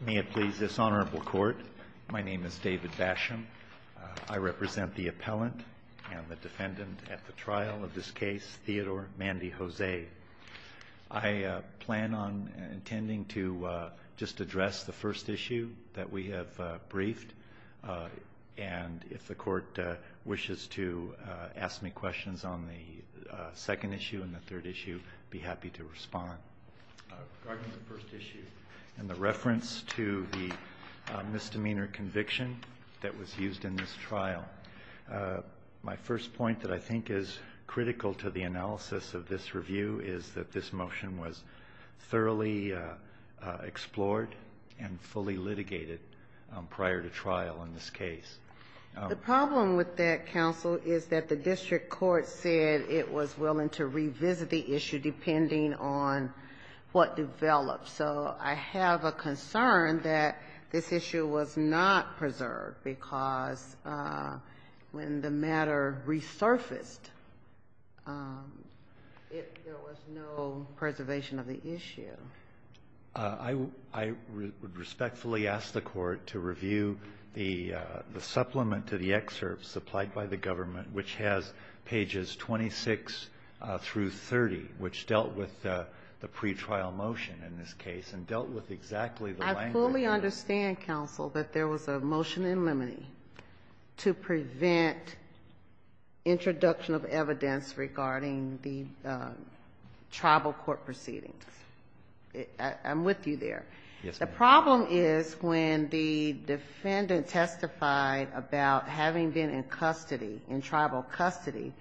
May it please this honorable court, my name is David Basham. I represent the appellant and the defendant at the trial of this case Theodore Mandy Jose. I plan on intending to just address the first issue that we have briefed and if the court wishes to ask me questions on the second issue and the third issue be happy to respond. In the reference to the misdemeanor conviction that was used in this trial, my first point that I think is critical to the analysis of this review is that this motion was thoroughly explored and fully litigated prior to trial in this case. The problem with that counsel is that the district court said it was willing to revisit the issue depending on what developed. So I have a concern that this issue was not preserved because when the matter resurfaced there was no preservation of the issue. I would respectfully ask the court to review the supplement to the excerpt supplied by the government which has pages 26 through 30 which dealt with the pretrial motion in this case and dealt with exactly the language. I fully understand counsel that there was a motion in limine to prevent introduction of evidence regarding the tribal court proceedings. I'm with you there. The problem is when the defendant testified about having been in custody, in tribal custody,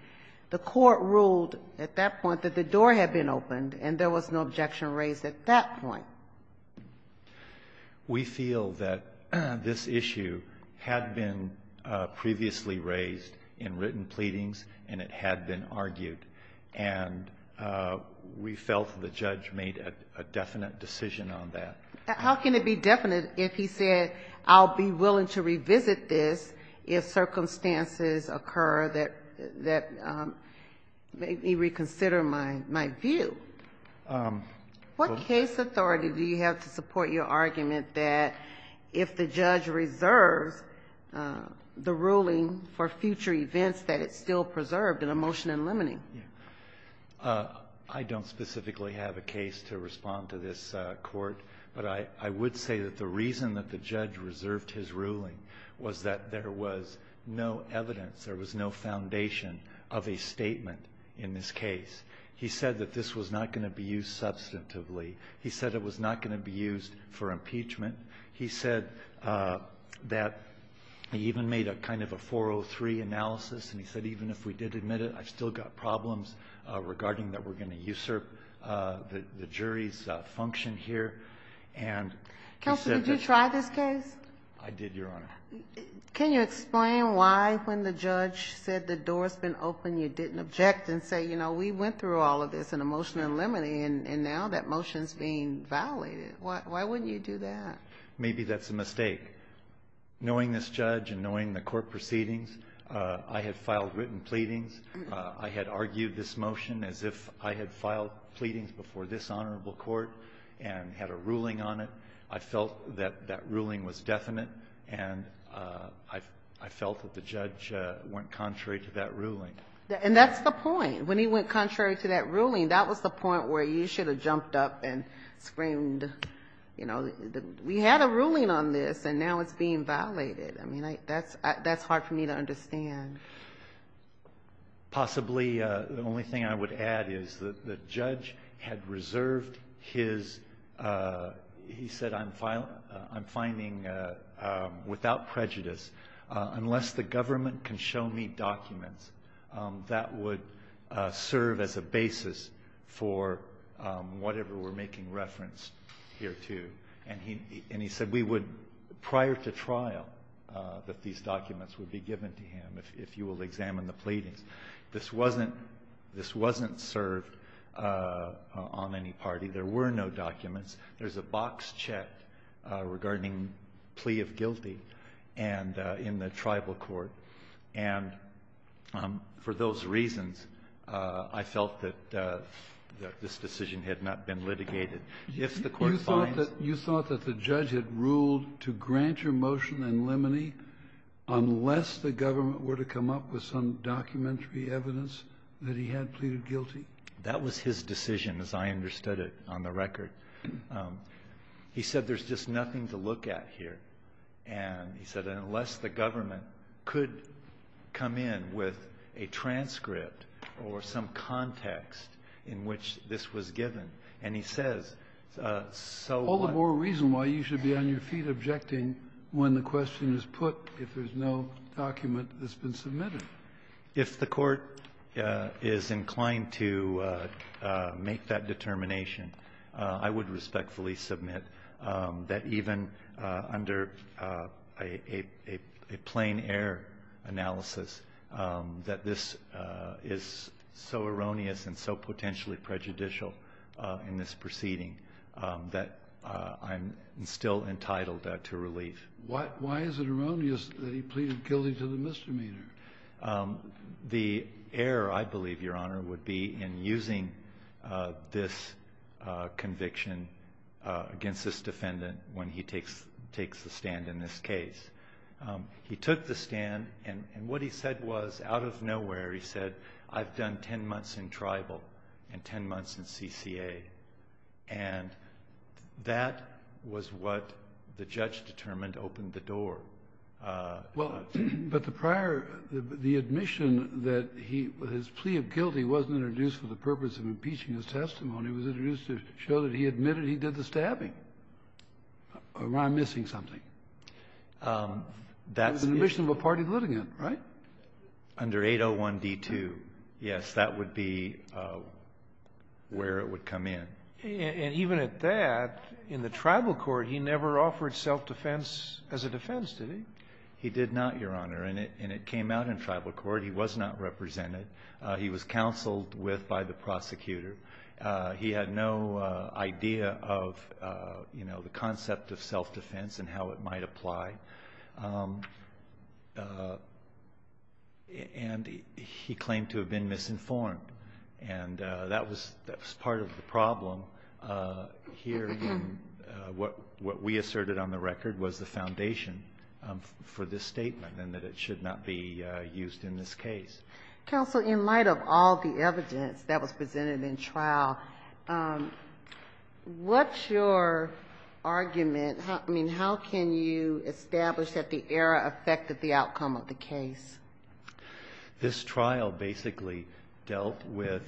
the court ruled at that point that the door had been opened and there was no objection raised at that point. We feel that this issue had been previously raised in written pleadings and it had been argued. And we felt the judge made a definite decision on that. How can it be definite if he said I'll be willing to revisit this if circumstances occur that make me reconsider my view? What case authority do you have to support your argument that if the judge reserves the ruling for future events that it's still preserved in a motion in limine? I don't specifically have a case to respond to this court, but I would say that the reason that the judge reserved his ruling was that there was no evidence, there was no foundation of a statement in this case. He said that this was not going to be used substantively. He said it was not going to be used for impeachment. He said that he even made a kind of a 403 analysis and he said even if we did admit it, I've still got problems regarding that we're going to usurp the jury's function here. Counselor, did you try this case? I did, Your Honor. Can you explain why when the judge said the door's been opened, you didn't object and say, you know, we went through all of this in a motion in limine and now that motion's being violated. Why wouldn't you do that? Maybe that's a mistake. Knowing this judge and knowing the court proceedings, I had filed written pleadings. I had argued this motion as if I had filed pleadings before this honorable court and had a ruling on it. I felt that that ruling was definite and I felt that the judge went contrary to that ruling. And that's the point. When he went contrary to that ruling, that was the point where you should have jumped up and screamed, you know, we had a ruling on this and now it's being violated. I mean, that's hard for me to understand. Possibly the only thing I would add is that the judge had reserved his, he said I'm finding without prejudice unless the government can show me documents, that would serve as a basis for whatever we're making reference here to. And he said we would, prior to trial, that these documents would be given to him if you will examine the pleadings. This wasn't served on any party. There were no documents. There's a box checked regarding plea of guilty in the tribal court. And for those reasons, I felt that this decision had not been litigated. If the court finds- You thought that the judge had ruled to grant your motion in limine unless the government were to come up with some documentary evidence that he had pleaded guilty? That was his decision as I understood it on the record. He said there's just nothing to look at here. And he said unless the government could come in with a transcript or some context in which this was given. And he says, so- All the more reason why you should be on your feet objecting when the question is put if there's no document that's been submitted. If the court is inclined to make that determination, I would respectfully submit that even under a plain air analysis, that this is so erroneous and so potentially prejudicial in this proceeding that I'm still entitled to relief. Why is it erroneous that he pleaded guilty to the misdemeanor? The error, I believe, Your Honor, would be in using this conviction against this defendant when he takes the stand in this case. He took the stand, and what he said was, out of nowhere, he said, I've done ten months in tribal and ten months in CCA. And that was what the judge determined opened the door. Well, but the prior, the admission that he, his plea of guilty wasn't introduced for the purpose of impeaching his testimony. It was introduced to show that he admitted he did the stabbing. Or I'm missing something. That's- It was an admission of a party litigant, right? Under 801 D2. Yes, that would be where it would come in. And even at that, in the tribal court, he never offered self-defense as a defense, did he? He did not, Your Honor. And it came out in tribal court. He was not represented. He was counseled with by the prosecutor. He had no idea of, you know, the concept of self-defense and how it might apply. And he claimed to have been misinformed. And that was part of the problem here in what we asserted on the record was the foundation for this statement and that it should not be used in this case. Counsel, in light of all the evidence that was presented in trial, what's your argument? I mean, how can you establish that the error affected the outcome of the case? This trial basically dealt with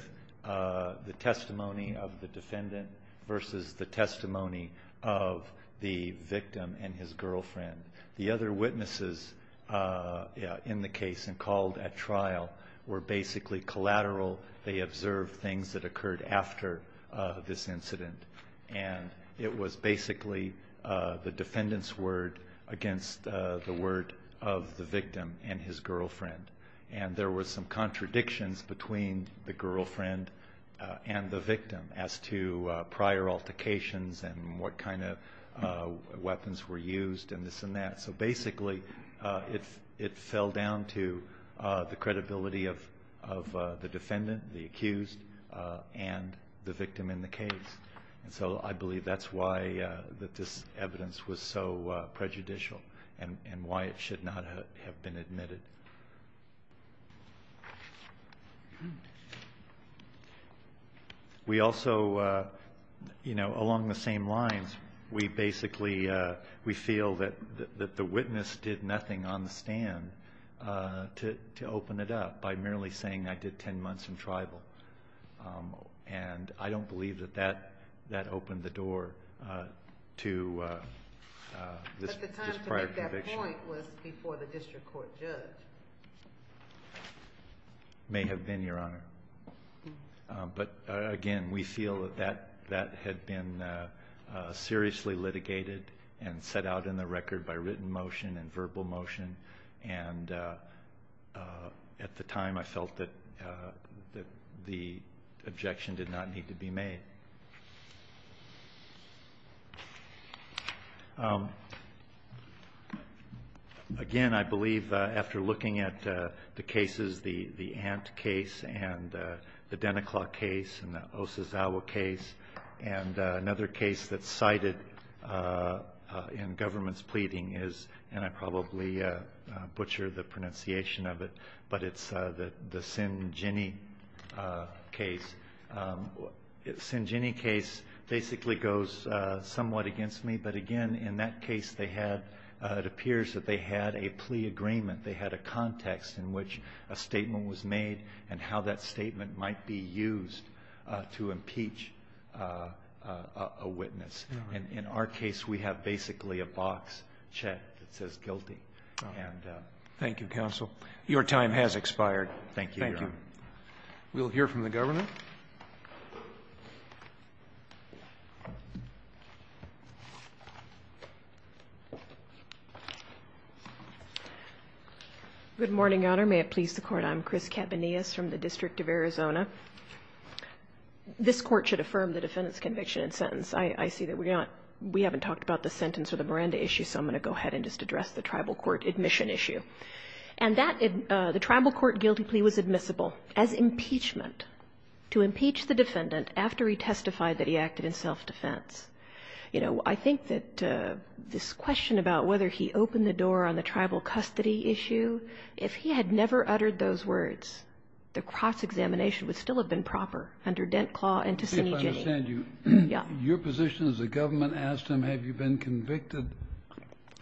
the testimony of the defendant versus the testimony of the victim and his girlfriend. The other witnesses in the case and called at trial were basically collateral. They observed things that occurred after this incident. And it was basically the defendant's word against the word of the victim and his girlfriend. And there were some contradictions between the girlfriend and the victim as to prior altercations and what kind of weapons were used and this and that. So basically, it fell down to the credibility of the defendant, the accused, and the victim in the case. So I believe that's why this evidence was so prejudicial and why it should not have been admitted. We also, along the same lines, we basically feel that the witness did nothing on the stand to open it up by merely saying, I did 10 months in tribal. And I don't believe that that opened the door to this prior conviction. But the time to make that point was before the district court judge. May have been, Your Honor. But again, we feel that that had been seriously litigated and set out in the record by written motion and verbal motion. And at the time, I felt that the objection did not need to be made. Again, I believe after looking at the cases, the Ant case and the Deneclaw case and the Osazawa case, and another case that's cited in government's pleading is, and I probably butchered the pronunciation of it, but it's the Sinjini case. Sinjini case basically goes somewhat against me. But again, in that case, it appears that they had a plea agreement. They had a context in which a statement was made and how that statement might be used to impeach a witness. And in our case, we have basically a box check that says guilty. Thank you, counsel. Your time has expired. Thank you, Your Honor. We'll hear from the governor. Good morning, Your Honor. May it please the Court. I'm Chris Cabanillas from the District of Arizona. This Court should affirm the defendant's conviction and sentence. I see that we haven't talked about the sentence or the Miranda issue, so I'm going to go ahead and just address the tribal court admission issue. And the tribal court guilty plea was admissible as impeachment, to impeach the defendant after he testified that he acted in self-defense. You know, I think that this question about whether he opened the door on the tribal custody issue, if he had never uttered those words, the cross-examination would still have been proper under Dent Claw and to Sine Ginni. Let me see if I understand you. Yeah. Your position is the government asked him, have you been convicted?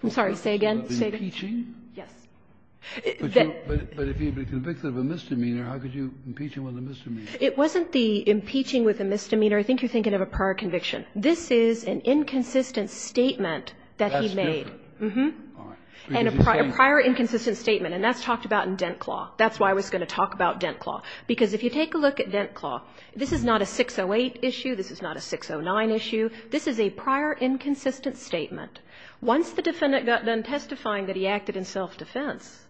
I'm sorry. Say again. Impeaching? Yes. But if he had been convicted of a misdemeanor, how could you impeach him with a misdemeanor? It wasn't the impeaching with a misdemeanor. I think you're thinking of a prior conviction. This is an inconsistent statement that he made. That's different. Mm-hmm. All right. And a prior inconsistent statement, and that's talked about in Dent Claw. That's why I was going to talk about Dent Claw. Because if you take a look at Dent Claw, this is not a 608 issue. This is not a 609 issue. This is a prior inconsistent statement. Once the defendant got done testifying that he acted in self-defense,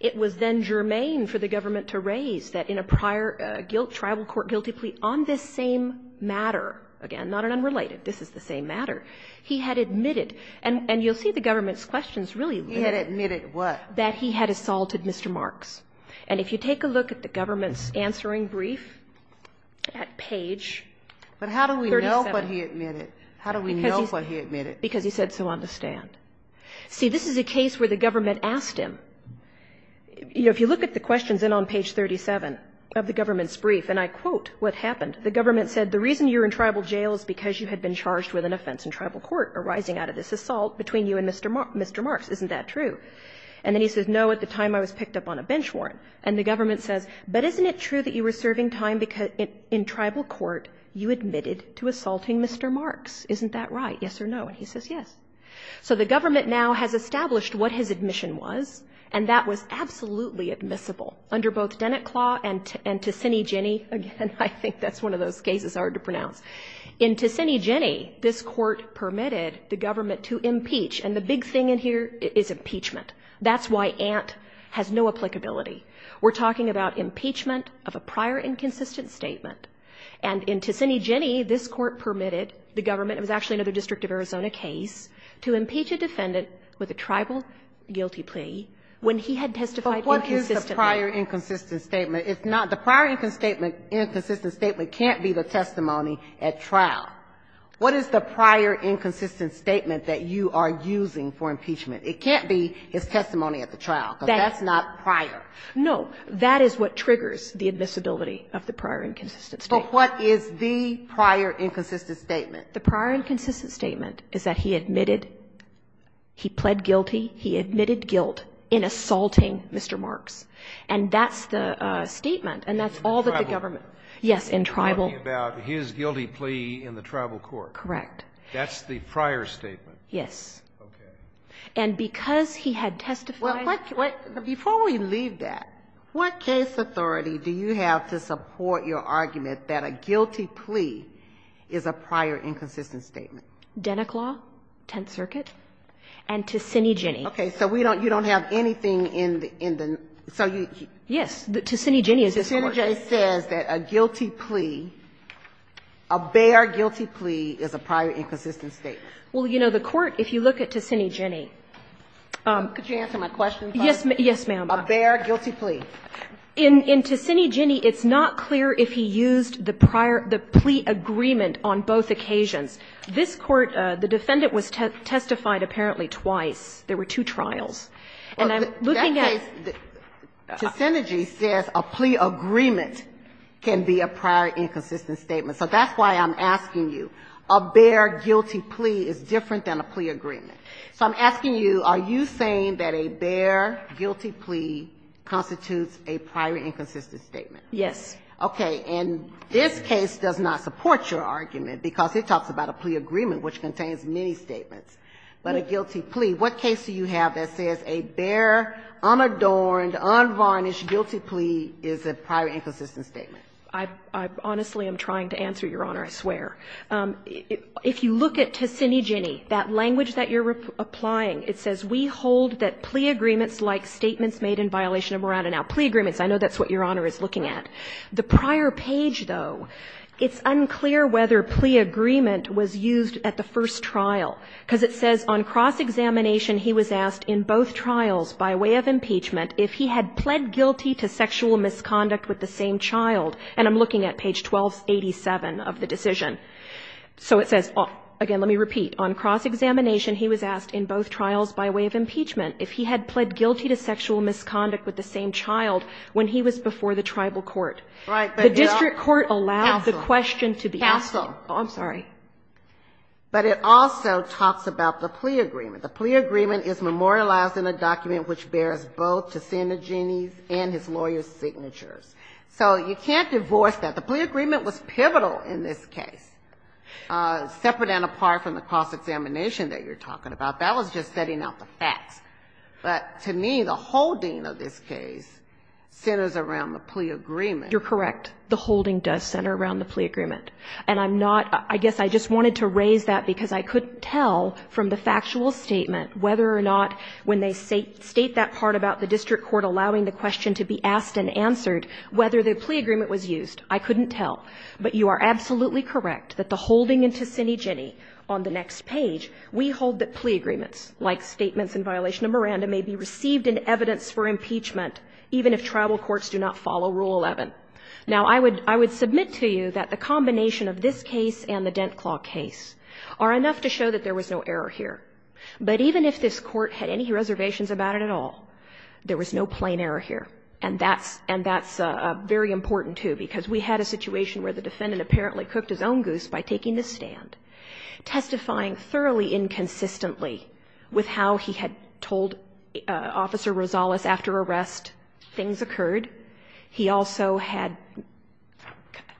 it was then germane for the government to raise that in a prior guilt, tribal court guilty plea on this same matter. Again, not an unrelated. This is the same matter. He had admitted, and you'll see the government's questions really. He had admitted what? That he had assaulted Mr. Marks. And if you take a look at the government's answering brief at page 37. But how do we know what he admitted? How do we know what he admitted? Because he said, so understand. See, this is a case where the government asked him. You know, if you look at the questions in on page 37 of the government's brief, and I quote what happened. The government said, the reason you're in tribal jail is because you had been charged with an offense in tribal court arising out of this assault between you and Mr. Marks. Isn't that true? And then he says, no, at the time I was picked up on a bench warrant. And the government says, but isn't it true that you were serving time in tribal court? You admitted to assaulting Mr. Marks. Isn't that right? Yes or no? And he says, yes. So the government now has established what his admission was, and that was absolutely admissible under both Dennett Claw and Ticini-Ginni. Again, I think that's one of those cases, hard to pronounce. In Ticini-Ginni, this court permitted the government to impeach. And the big thing in here is impeachment. That's why Ant has no applicability. We're talking about impeachment of a prior inconsistent statement. And in Ticini-Ginni, this court permitted the government, it was actually another District of Arizona case, to impeach a defendant with a tribal guilty plea when he had testified inconsistently. But what is the prior inconsistent statement? The prior inconsistent statement can't be the testimony at trial. What is the prior inconsistent statement that you are using for impeachment? It can't be his testimony at the trial, because that's not prior. No. That is what triggers the admissibility of the prior inconsistent statement. But what is the prior inconsistent statement? The prior inconsistent statement is that he admitted, he pled guilty, he admitted guilt in assaulting Mr. Marks. And that's the statement. And that's all that the government. In tribal? Yes, in tribal. You're talking about his guilty plea in the tribal court? Correct. That's the prior statement? Yes. Okay. And because he had testified. Before we leave that, what case authority do you have to support your argument that a guilty plea is a prior inconsistent statement? Deneclaw, Tenth Circuit, and Ticini-Ginni. Okay. So we don't, you don't have anything in the, in the, so you. Yes. Ticini-Ginni. Ticini-Ginni says that a guilty plea, a bare guilty plea is a prior inconsistent statement. Well, you know, the court, if you look at Ticini-Ginni. Could you answer my question, please? Yes, ma'am. A bare guilty plea. In Ticini-Ginni, it's not clear if he used the prior, the plea agreement on both occasions. This court, the defendant was testified apparently twice. There were two trials. And I'm looking at. Well, that case, Ticini-Ginni says a plea agreement can be a prior inconsistent statement. So that's why I'm asking you. A bare guilty plea is different than a plea agreement. So I'm asking you, are you saying that a bare guilty plea constitutes a prior inconsistent statement? Yes. Okay. And this case does not support your argument because it talks about a plea agreement, which contains many statements. But a guilty plea. What case do you have that says a bare, unadorned, unvarnished guilty plea is a prior inconsistent statement? I honestly am trying to answer, Your Honor, I swear. If you look at Ticini-Ginni, that language that you're applying, it says, we hold that plea agreements like statements made in violation of Moran and Al. Plea agreements, I know that's what Your Honor is looking at. The prior page, though, it's unclear whether plea agreement was used at the first trial. Because it says, on cross-examination, he was asked in both trials by way of impeachment if he had pled guilty to sexual misconduct with the same child. And I'm looking at page 1287 of the decision. So it says, again, let me repeat, on cross-examination, he was asked in both trials by way of impeachment if he had pled guilty to sexual misconduct with the same child when he was before the tribal court. Right. The district court allowed the question to be asked. Counsel. Oh, I'm sorry. But it also talks about the plea agreement. The plea agreement is memorialized in a document which bears both Ticini-Ginni's and his lawyer's signatures. So you can't divorce that. The plea agreement was pivotal in this case. Separate and apart from the cross-examination that you're talking about. That was just setting out the facts. But to me, the holding of this case centers around the plea agreement. You're correct. The holding does center around the plea agreement. And I'm not, I guess I just wanted to raise that because I couldn't tell from the factual statement whether or not when they state that part about the district court allowing the question to be asked and answered, whether the plea agreement was used. I couldn't tell. But you are absolutely correct that the holding in Ticini-Ginni on the next page, we hold that plea agreements, like statements in violation of Miranda, may be received in evidence for impeachment, even if tribal courts do not follow Rule 11. Now, I would submit to you that the combination of this case and the Dent Claw case are enough to show that there was no error here. But even if this court had any reservations about it at all, there was no plain error here. And that's very important, too, because we had a situation where the defendant apparently cooked his own goose by taking the stand, testifying thoroughly inconsistently with how he had told Officer Rosales after arrest things occurred. He also had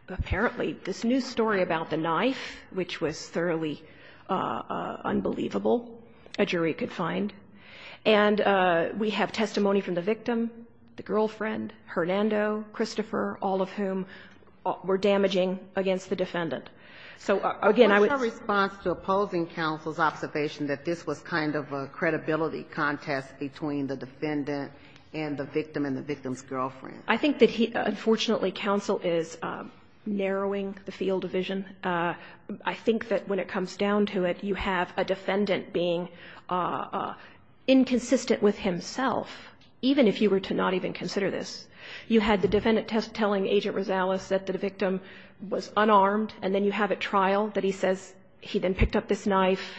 apparently this new story about the knife, which was thoroughly unbelievable, a jury could find. And we have testimony from the victim, the girlfriend, Hernando, Christopher, all of whom were damaging against the defendant. So, again, I would say that this was a kind of a credibility contest between the defendant and the victim and the victim's girlfriend. I think that he, unfortunately, counsel is narrowing the field of vision. I think that when it comes down to it, you have a defendant being inconsistent with himself, even if you were to not even consider this. You had the defendant telling Agent Rosales that the victim was unarmed, and then you have at trial that he says he then picked up this knife.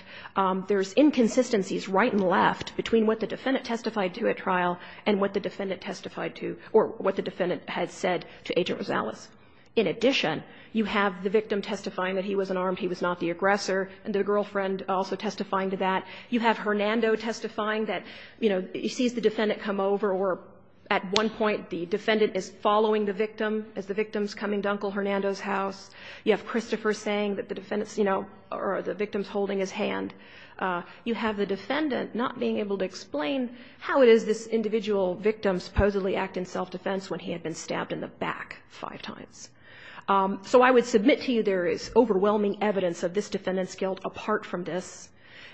There's inconsistencies right and left between what the defendant testified to at trial and what the defendant testified to or what the defendant had said to Agent Rosales. In addition, you have the victim testifying that he was unarmed, he was not the aggressor, and the girlfriend also testifying to that. You have Hernando testifying that, you know, he sees the defendant come over or at one point the defendant is following the victim as the victim's coming to Uncle Hernando's house. You have Christopher saying that the defendant's, you know, or the victim's hand, you have the defendant not being able to explain how it is this individual victim supposedly act in self-defense when he had been stabbed in the back five times. So I would submit to you there is overwhelming evidence of this defendant's guilt apart from this.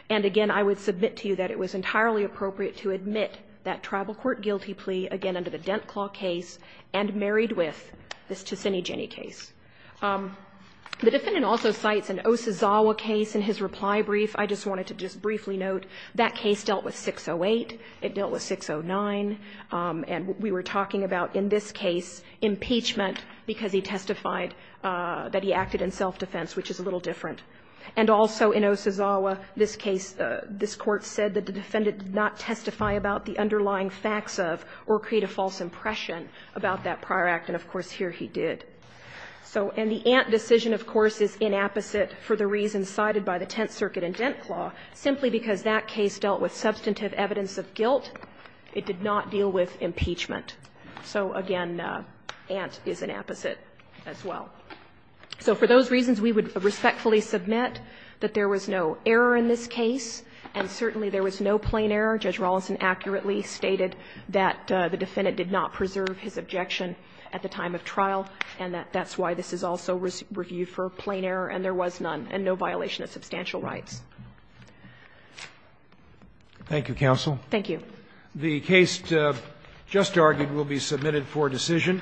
And, again, I would submit to you that it was entirely appropriate to admit that tribal court guilty plea, again, under the Dent Claw case and married with this Ticini-Geni case. The defendant also cites an Osazawa case in his reply brief. I just wanted to just briefly note that case dealt with 608, it dealt with 609, and we were talking about in this case impeachment because he testified that he acted in self-defense, which is a little different. And also in Osazawa, this case, this Court said that the defendant did not testify about the underlying facts of or create a false impression about that prior act. And, of course, here he did. So and the Ant decision, of course, is inapposite for the reasons cited by the Tenth Circuit in Dent Claw. Simply because that case dealt with substantive evidence of guilt, it did not deal with impeachment. So, again, Ant is an apposite as well. So for those reasons, we would respectfully submit that there was no error in this case, and certainly there was no plain error. Judge Rawlinson accurately stated that the defendant did not preserve his objection at the time of trial, and that that's why this is also reviewed for plain error, and there was none and no violation of substantial rights. Thank you, counsel. Thank you. The case just argued will be submitted for decision.